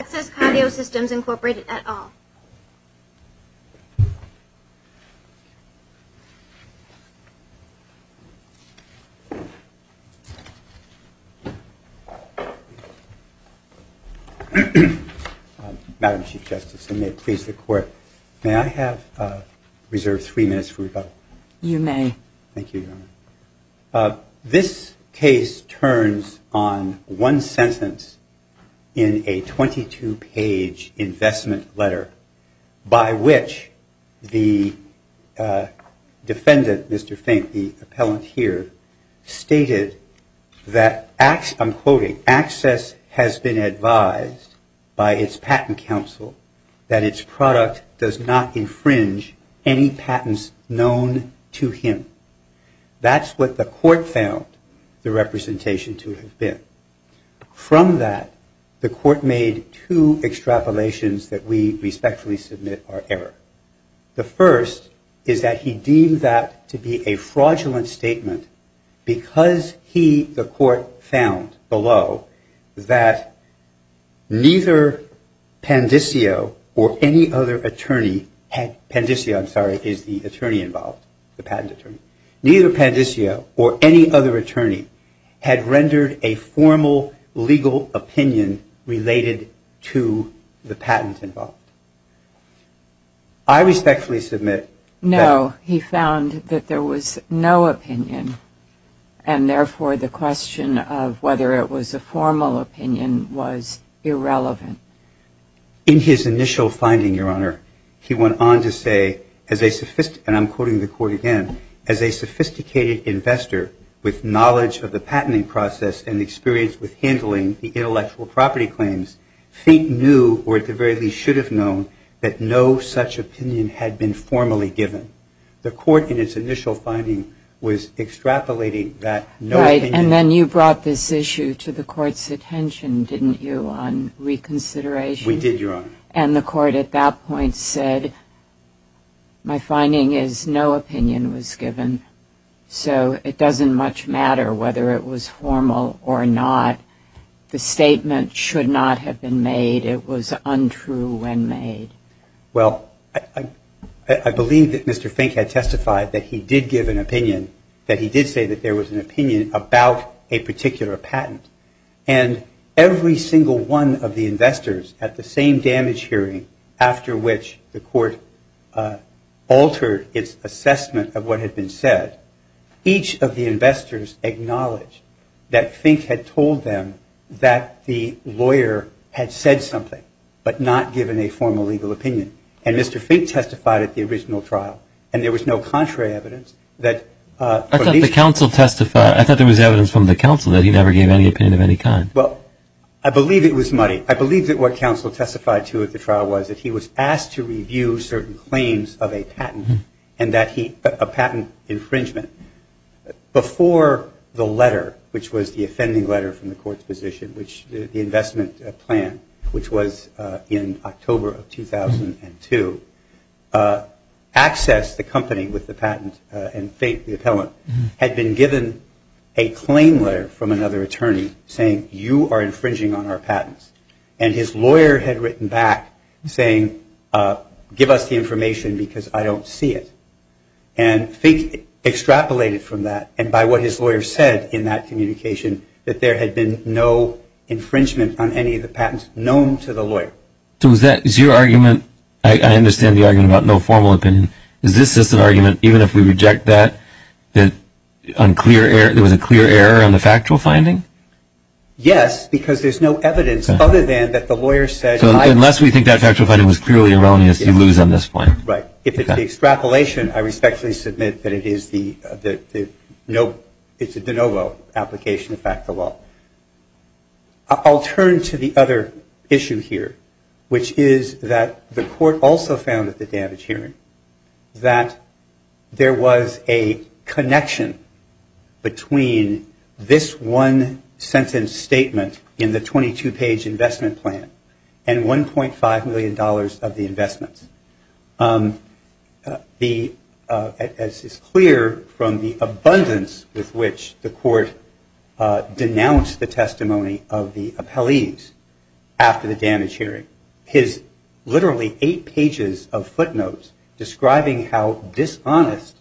Access Cardio Systems Incorporated, et al. Madam Chief Justice, and may it please the Court, may I have reserved three minutes for rebuttal? You may. Thank you, Your Honor. This case turns on one sentence in a 22-page investment letter by which the defendant, Mr. Fink, the appellant here, stated that, I'm quoting, the access has been advised by its patent counsel that its product does not infringe any patents known to him. That's what the court found the representation to have been. From that, the court made two extrapolations that we respectfully submit are error. The first is that he deemed that to be a fraudulent statement because he, the court found below, that neither Pandisio or any other attorney had rendered a formal legal opinion related to the patent involved. I respectfully submit that. No, he found that there was no opinion, and therefore the question of whether it was a formal opinion was irrelevant. In his initial finding, Your Honor, he went on to say, as a, and I'm quoting the court again, as a sophisticated investor with knowledge of the patenting process and experience with handling the intellectual property claims, Fink knew, or at the very least should have known, that no such opinion had been formally given. The court in its initial finding was extrapolating that no opinion. Right. And then you brought this issue to the court's attention, didn't you, on reconsideration? We did, Your Honor. And the court at that point said, my finding is no opinion was given, so it doesn't much matter whether it was formal or not. The statement should not have been made. It was untrue when made. Well, I believe that Mr. Fink had testified that he did give an opinion, that he did say that there was an opinion about a particular patent. And every single one of the investors at the same damage hearing, after which the court altered its assessment of what had been said, each of the investors acknowledged that Fink had told them that the lawyer had said something, but not given a formal legal opinion. And Mr. Fink testified at the original trial, and there was no contrary evidence that, I thought the counsel testified, I thought there was evidence from the counsel that he never gave any opinion of any kind. Well, I believe it was muddy. I believe that what counsel testified to at the trial was that he was asked to review certain claims of a patent, and that he, a patent infringement. Before the letter, which was the offending letter from the court's position, which the investment plan, which was in October of 2002, accessed the company with the patent, and Fink, the appellant, had been given a claim letter from another attorney saying, you are infringing on our patents. And his lawyer had written back saying, give us the information because I don't see it. And Fink extrapolated from that, and by what his lawyer said in that communication, that there had been no infringement on any of the patents known to the lawyer. So is your argument, I understand the argument about no formal opinion, is this just an argument, even if we reject that, that there was a clear error on the factual finding? Yes, because there's no evidence other than that the lawyer said. So unless we think that factual finding was clearly erroneous, you lose on this point. Right. If it's the extrapolation, I respectfully submit that it is the de novo application of factual law. I'll turn to the other issue here, which is that the court also found at the damage hearing that there was a connection between this one sentence statement in the 22-page investment plan and $1.5 million of the investments. As is clear from the abundance with which the court denounced the testimony of the appellees after the damage hearing, his literally eight pages of footnotes describing how dishonest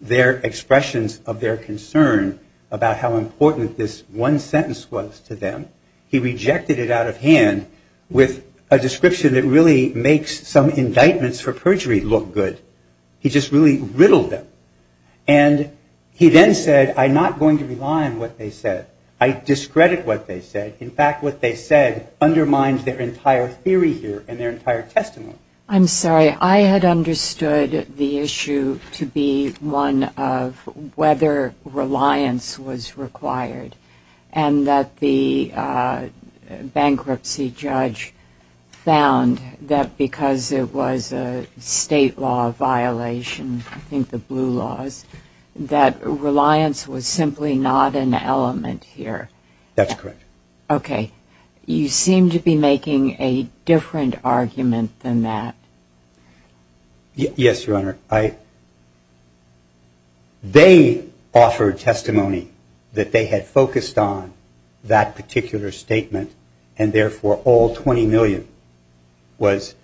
their expressions of their concern about how important this one sentence was to them, he rejected it out of hand with a description that really makes some indictments for perjury look good. He just really riddled them. And he then said, I'm not going to rely on what they said. I discredit what they said. In fact, what they said undermines their entire theory here and their entire testimony. I'm sorry. I had understood the issue to be one of whether reliance was required and that the bankruptcy judge found that because it was a state law violation, I think the blue laws, that reliance was simply not an element here. That's correct. Okay. You seem to be making a different argument than that. Yes, Your Honor. They offered testimony that they had focused on that particular statement and therefore all $20 million was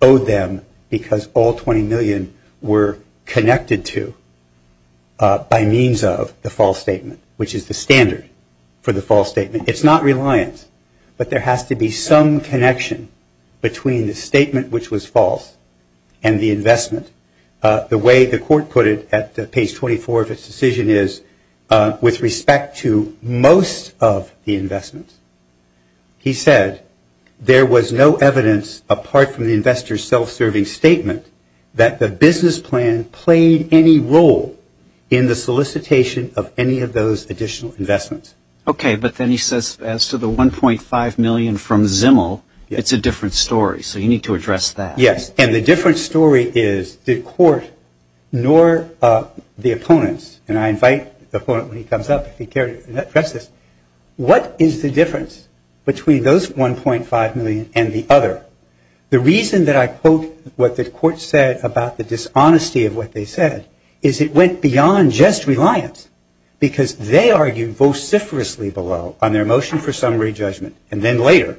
owed them because all $20 million were connected to by means of the false statement, which is the standard for the false statement. It's not reliance, but there has to be some connection between the statement which was false and the investment. The way the court put it at page 24 of its decision is with respect to most of the investments, he said there was no evidence apart from the investor's self-serving statement that the business plan played any role in the solicitation of any of those additional investments. Okay. But then he says as to the $1.5 million from Zimmel, it's a different story. So you need to address that. Yes. And the different story is the court nor the opponents, and I invite the opponent when he comes up if he cares to address this, what is the difference between those $1.5 million and the other? The reason that I quote what the court said about the dishonesty of what they said is it went beyond just reliance because they argued vociferously below on their motion for summary judgment and then later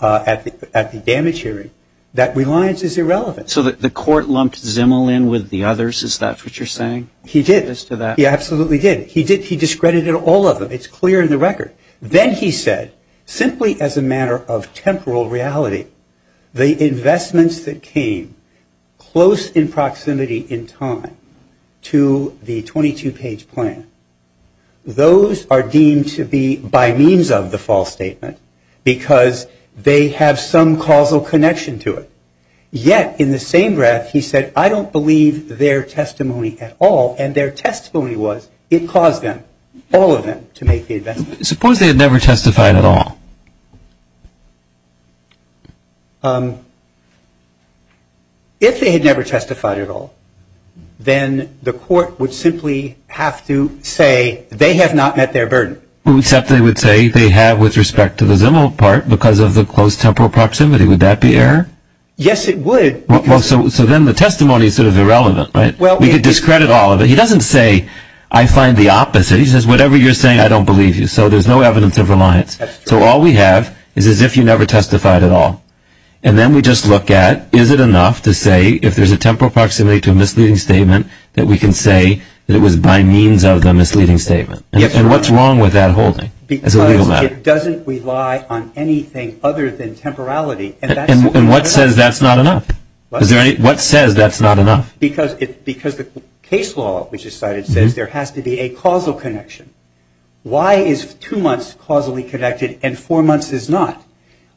at the damage hearing that reliance is irrelevant. So the court lumped Zimmel in with the others? Is that what you're saying? He did. He absolutely did. He discredited all of them. It's clear in the record. Then he said simply as a matter of temporal reality, the investments that came close in proximity in time to the 22-page plan, those are deemed to be by means of the false statement because they have some causal connection to it. Yet in the same breath, he said, I don't believe their testimony at all. And their testimony was it caused them, all of them, to make the investment. Suppose they had never testified at all. If they had never testified at all, then the court would simply have to say they have not met their burden. Except they would say they have with respect to the Zimmel part because of the close temporal proximity. Would that be error? Yes, it would. So then the testimony is sort of irrelevant, right? We could discredit all of it. He doesn't say I find the opposite. He says whatever you're saying, I don't believe you. So there's no evidence of reliance. So all we have is as if you never testified at all. And then we just look at is it enough to say if there's a temporal proximity to a misleading statement that we can say that it was by means of the misleading statement. And what's wrong with that holding as a legal matter? Because it doesn't rely on anything other than temporality. And what says that's not enough? What says that's not enough? Because the case law which is cited says there has to be a causal connection. Why is two months causally connected and four months is not?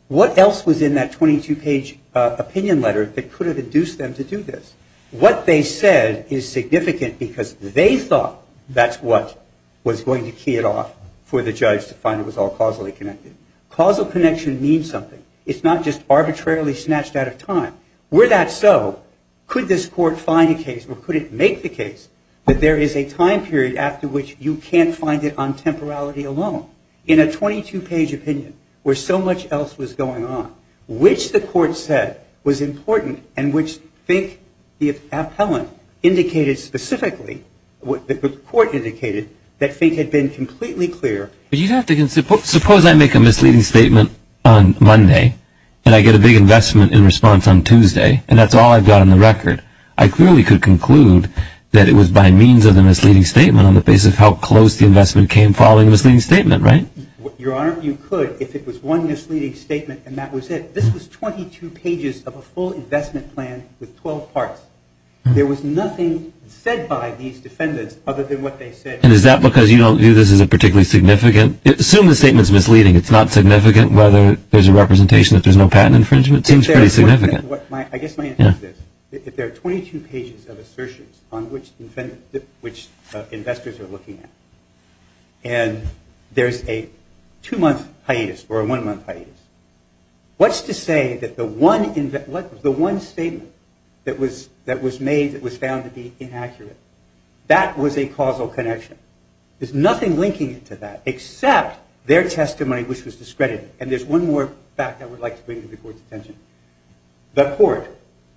What else was in that 22-page opinion letter that could have induced them to do this? What they said is significant because they thought that's what was going to key it off for the judge to find it was all causally connected. Causal connection means something. It's not just arbitrarily snatched out of time. Were that so, could this court find a case or could it make the case that there is a time period after which you can't find it on temporality alone in a 22-page opinion where so much else was going on, which the court said was important and which I think the appellant indicated specifically, what the court indicated, that I think had been completely clear. Suppose I make a misleading statement on Monday and I get a big investment in response on Tuesday and that's all I've got on the record. I clearly could conclude that it was by means of the misleading statement on the basis of how close the investment came following the misleading statement, right? Your Honor, you could if it was one misleading statement and that was it. This was 22 pages of a full investment plan with 12 parts. There was nothing said by these defendants other than what they said. And is that because you don't view this as particularly significant? Assume the statement is misleading. It's not significant whether there's a representation that there's no patent infringement. It seems pretty significant. I guess my answer is this. If there are 22 pages of assertions on which investors are looking at and there's a two-month hiatus or a one-month hiatus, what's to say that the one statement that was made that was found to be inaccurate, that was a causal connection? There's nothing linking it to that except their testimony, which was discredited. And there's one more fact I would like to bring to the Court's attention. The Court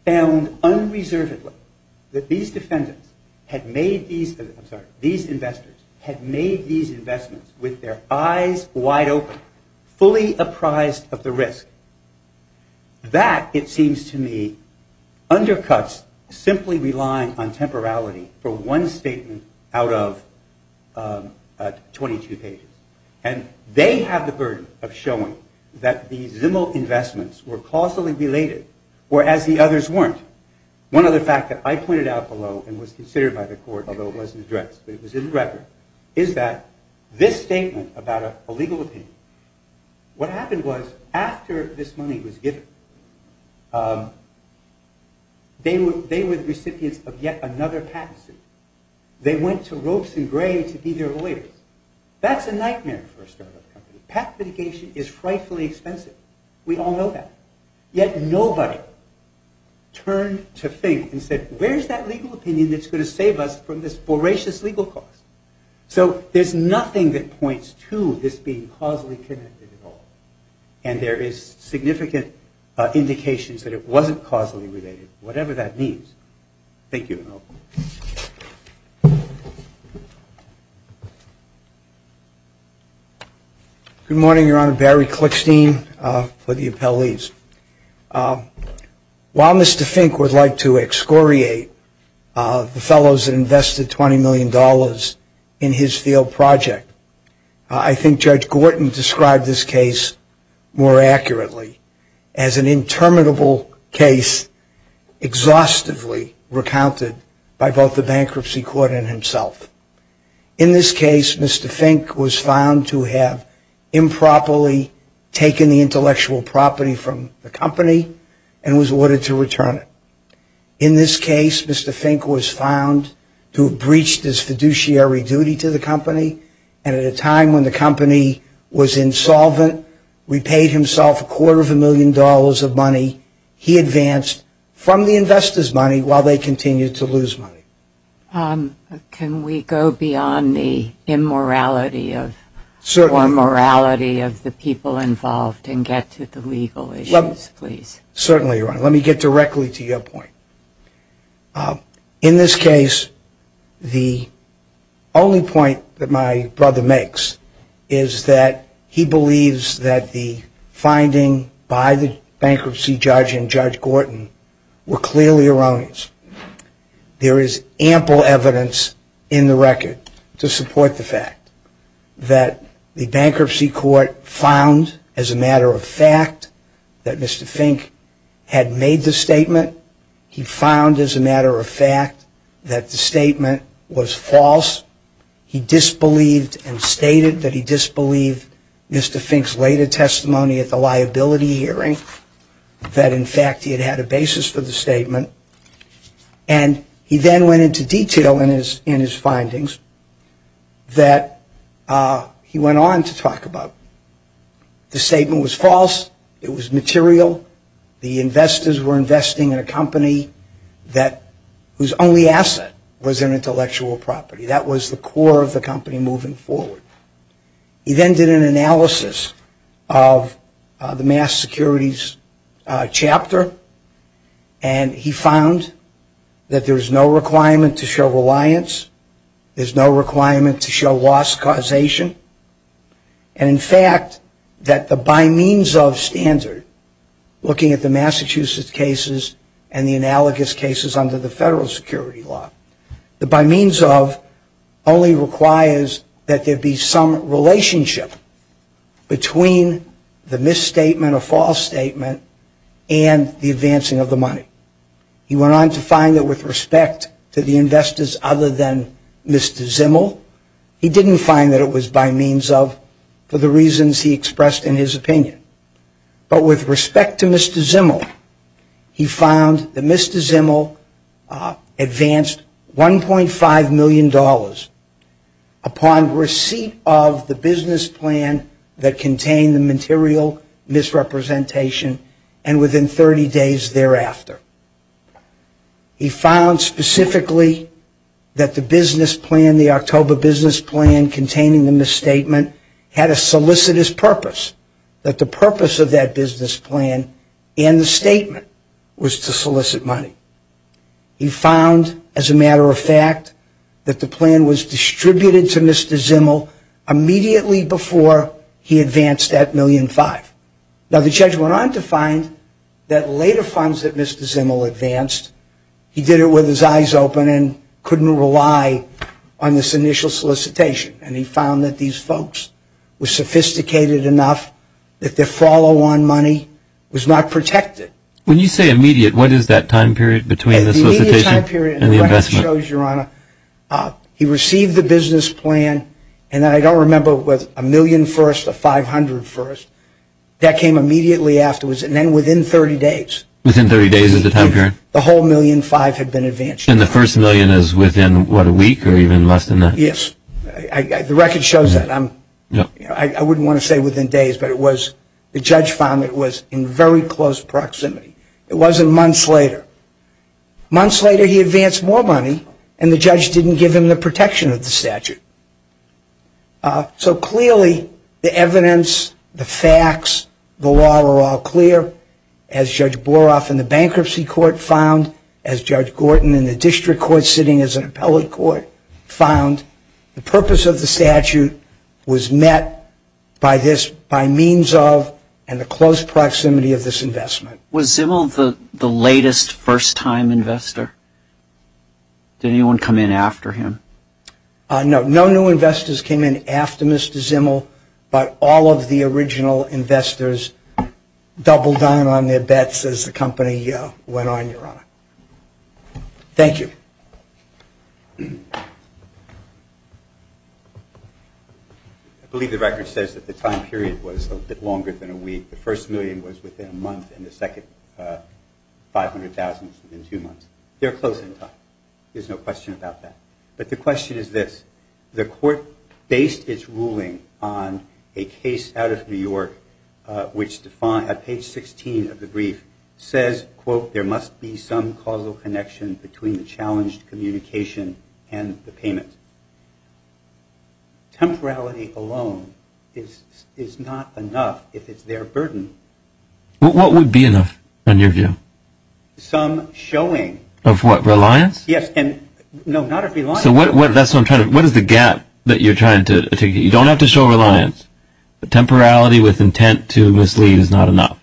found unreservedly that these investors had made these investments with their eyes wide open, fully apprised of the risk. That, it seems to me, undercuts simply relying on temporality for one statement out of 22 pages. And they have the burden of showing that the Zimmel investments were causally related or as the others weren't. One other fact that I pointed out below and was considered by the Court, although it wasn't addressed, but it was in the record, is that this statement about a legal opinion, what happened was after this money was given, they were the recipients of yet another patent suit. They went to ropes and graves to be their lawyers. That's a nightmare for a startup company. Patent litigation is frightfully expensive. We all know that. Yet nobody turned to think and said, where's that legal opinion that's going to save us from this voracious legal cost? So there's nothing that points to this being causally connected at all. And there is significant indications that it wasn't causally related, whatever that means. Thank you. Good morning, Your Honor. Barry Klickstein for the appellees. While Mr. Fink would like to excoriate the fellows that invested $20 million in his field project, I think Judge Gorton described this case more accurately as an interminable case exhaustively recounted by both the bankruptcy court and himself. In this case, Mr. Fink was found to have improperly taken the intellectual property from the company and was ordered to return it. In this case, Mr. Fink was found to have breached his fiduciary duty to the company, and at a time when the company was insolvent, repaid himself a quarter of a million dollars of money, he advanced from the investors' money while they continued to lose money. Can we go beyond the immorality or morality of the people involved and get to the legal issues, please? Certainly, Your Honor. Let me get directly to your point. In this case, the only point that my brother makes is that he believes that the finding by the bankruptcy judge and Judge Gorton were clearly erroneous. There is ample evidence in the record to support the fact that the bankruptcy court found, as a matter of fact, that Mr. Fink had made the statement. He found, as a matter of fact, that the statement was false. He disbelieved and stated that he disbelieved Mr. Fink's later testimony at the liability hearing, that, in fact, he had had a basis for the statement, and he then went into detail in his findings that he went on to talk about. The statement was false. It was material. The investors were investing in a company whose only asset was an intellectual property. That was the core of the company moving forward. He then did an analysis of the mass securities chapter, and he found that there is no requirement to show reliance. There is no requirement to show loss causation. And, in fact, that the by-means-of standard, looking at the Massachusetts cases and the analogous cases under the federal security law, the by-means-of only requires that there be some relationship between the misstatement or false statement and the advancing of the money. He went on to find that, with respect to the investors other than Mr. Zimmel, he didn't find that it was by-means-of for the reasons he expressed in his opinion. But, with respect to Mr. Zimmel, he found that Mr. Zimmel advanced $1.5 million upon receipt of the business plan that contained the material misrepresentation and within 30 days thereafter. He found specifically that the business plan, the October business plan, containing the misstatement, had a solicitous purpose, that the purpose of that business plan and the statement was to solicit money. He found, as a matter of fact, that the plan was distributed to Mr. Zimmel immediately before he advanced that $1.5 million. Now, the judge went on to find that later funds that Mr. Zimmel advanced, he did it with his eyes open and couldn't rely on this initial solicitation. And he found that these folks were sophisticated enough that their follow-on money was not protected. When you say immediate, what is that time period between the solicitation and the investment? The immediate time period, as the record shows, Your Honor, he received the business plan, and I don't remember whether it was a million first or 500 first. That came immediately afterwards and then within 30 days. Within 30 days is the time period? The whole million five had been advanced. And the first million is within, what, a week or even less than that? Yes. The record shows that. I wouldn't want to say within days, but the judge found it was in very close proximity. It wasn't months later. Months later, he advanced more money, and the judge didn't give him the protection of the statute. So clearly, the evidence, the facts, the law are all clear. As Judge Boroff in the bankruptcy court found, as Judge Gordon in the district court sitting as an appellate court found, the purpose of the statute was met by means of and the close proximity of this investment. Was Zimmel the latest first-time investor? Did anyone come in after him? No. No new investors came in after Mr. Zimmel, but all of the original investors doubled down on their bets as the company went on, Your Honor. Thank you. I believe the record says that the time period was a bit longer than a week. The first million was within a month, and the second 500,000 was within two months. They're close in time. There's no question about that. But the question is this. The court based its ruling on a case out of New York, which at page 16 of the brief says, quote, there must be some causal connection between the challenged communication and the payment. Temporality alone is not enough if it's their burden. What would be enough, in your view? Some showing. Of what, reliance? No, not of reliance. So what is the gap that you're trying to articulate? You don't have to show reliance. Temporality with intent to mislead is not enough.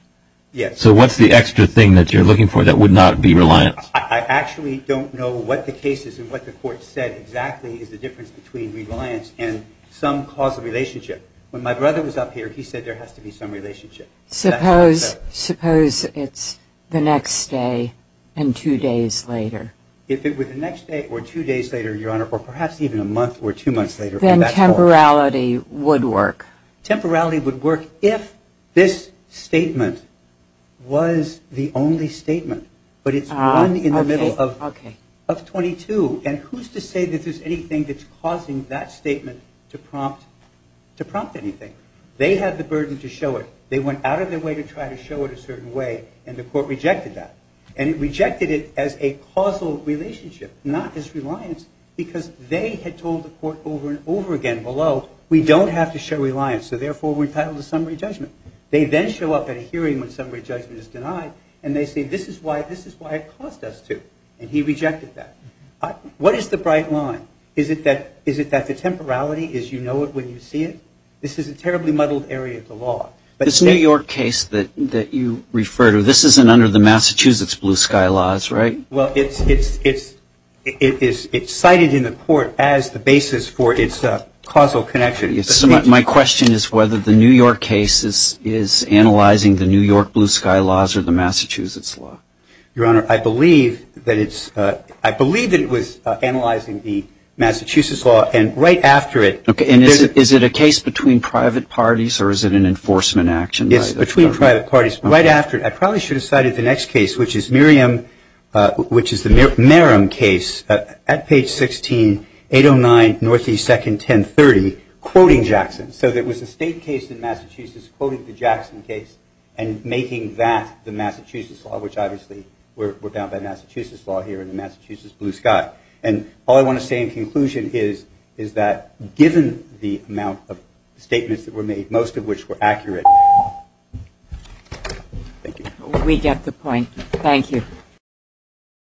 Yes. So what's the extra thing that you're looking for that would not be reliance? I actually don't know what the case is and what the court said exactly is the difference between reliance and some causal relationship. When my brother was up here, he said there has to be some relationship. Suppose it's the next day and two days later. If it were the next day or two days later, Your Honor, or perhaps even a month or two months later. Then temporality would work. Temporality would work if this statement was the only statement. But it's one in the middle of 22. And who's to say that there's anything that's causing that statement to prompt anything? They have the burden to show it. They went out of their way to try to show it a certain way, and the court rejected that. And it rejected it as a causal relationship, not as reliance, because they had told the court over and over again below, we don't have to show reliance, so therefore we're entitled to summary judgment. They then show up at a hearing when summary judgment is denied, and they say this is why it cost us two, and he rejected that. What is the bright line? Is it that the temporality is you know it when you see it? This is a terribly muddled area of the law. This New York case that you refer to, this isn't under the Massachusetts blue sky laws, right? Well, it's cited in the court as the basis for its causal connection. My question is whether the New York case is analyzing the New York blue sky laws or the Massachusetts law. Your Honor, I believe that it was analyzing the Massachusetts law, and right after it. Okay. And is it a case between private parties, or is it an enforcement action? It's between private parties. Right after it. I probably should have cited the next case, which is Miriam, which is the Merrim case, at page 16, 809, Northeast 2nd, 1030, quoting Jackson. So there was a state case in Massachusetts quoting the Jackson case and making that the Massachusetts law, which obviously we're bound by Massachusetts law here in the Massachusetts blue sky. And all I want to say in conclusion is that given the amount of statements that were made, most of which were accurate. Thank you. We get the point. Thank you.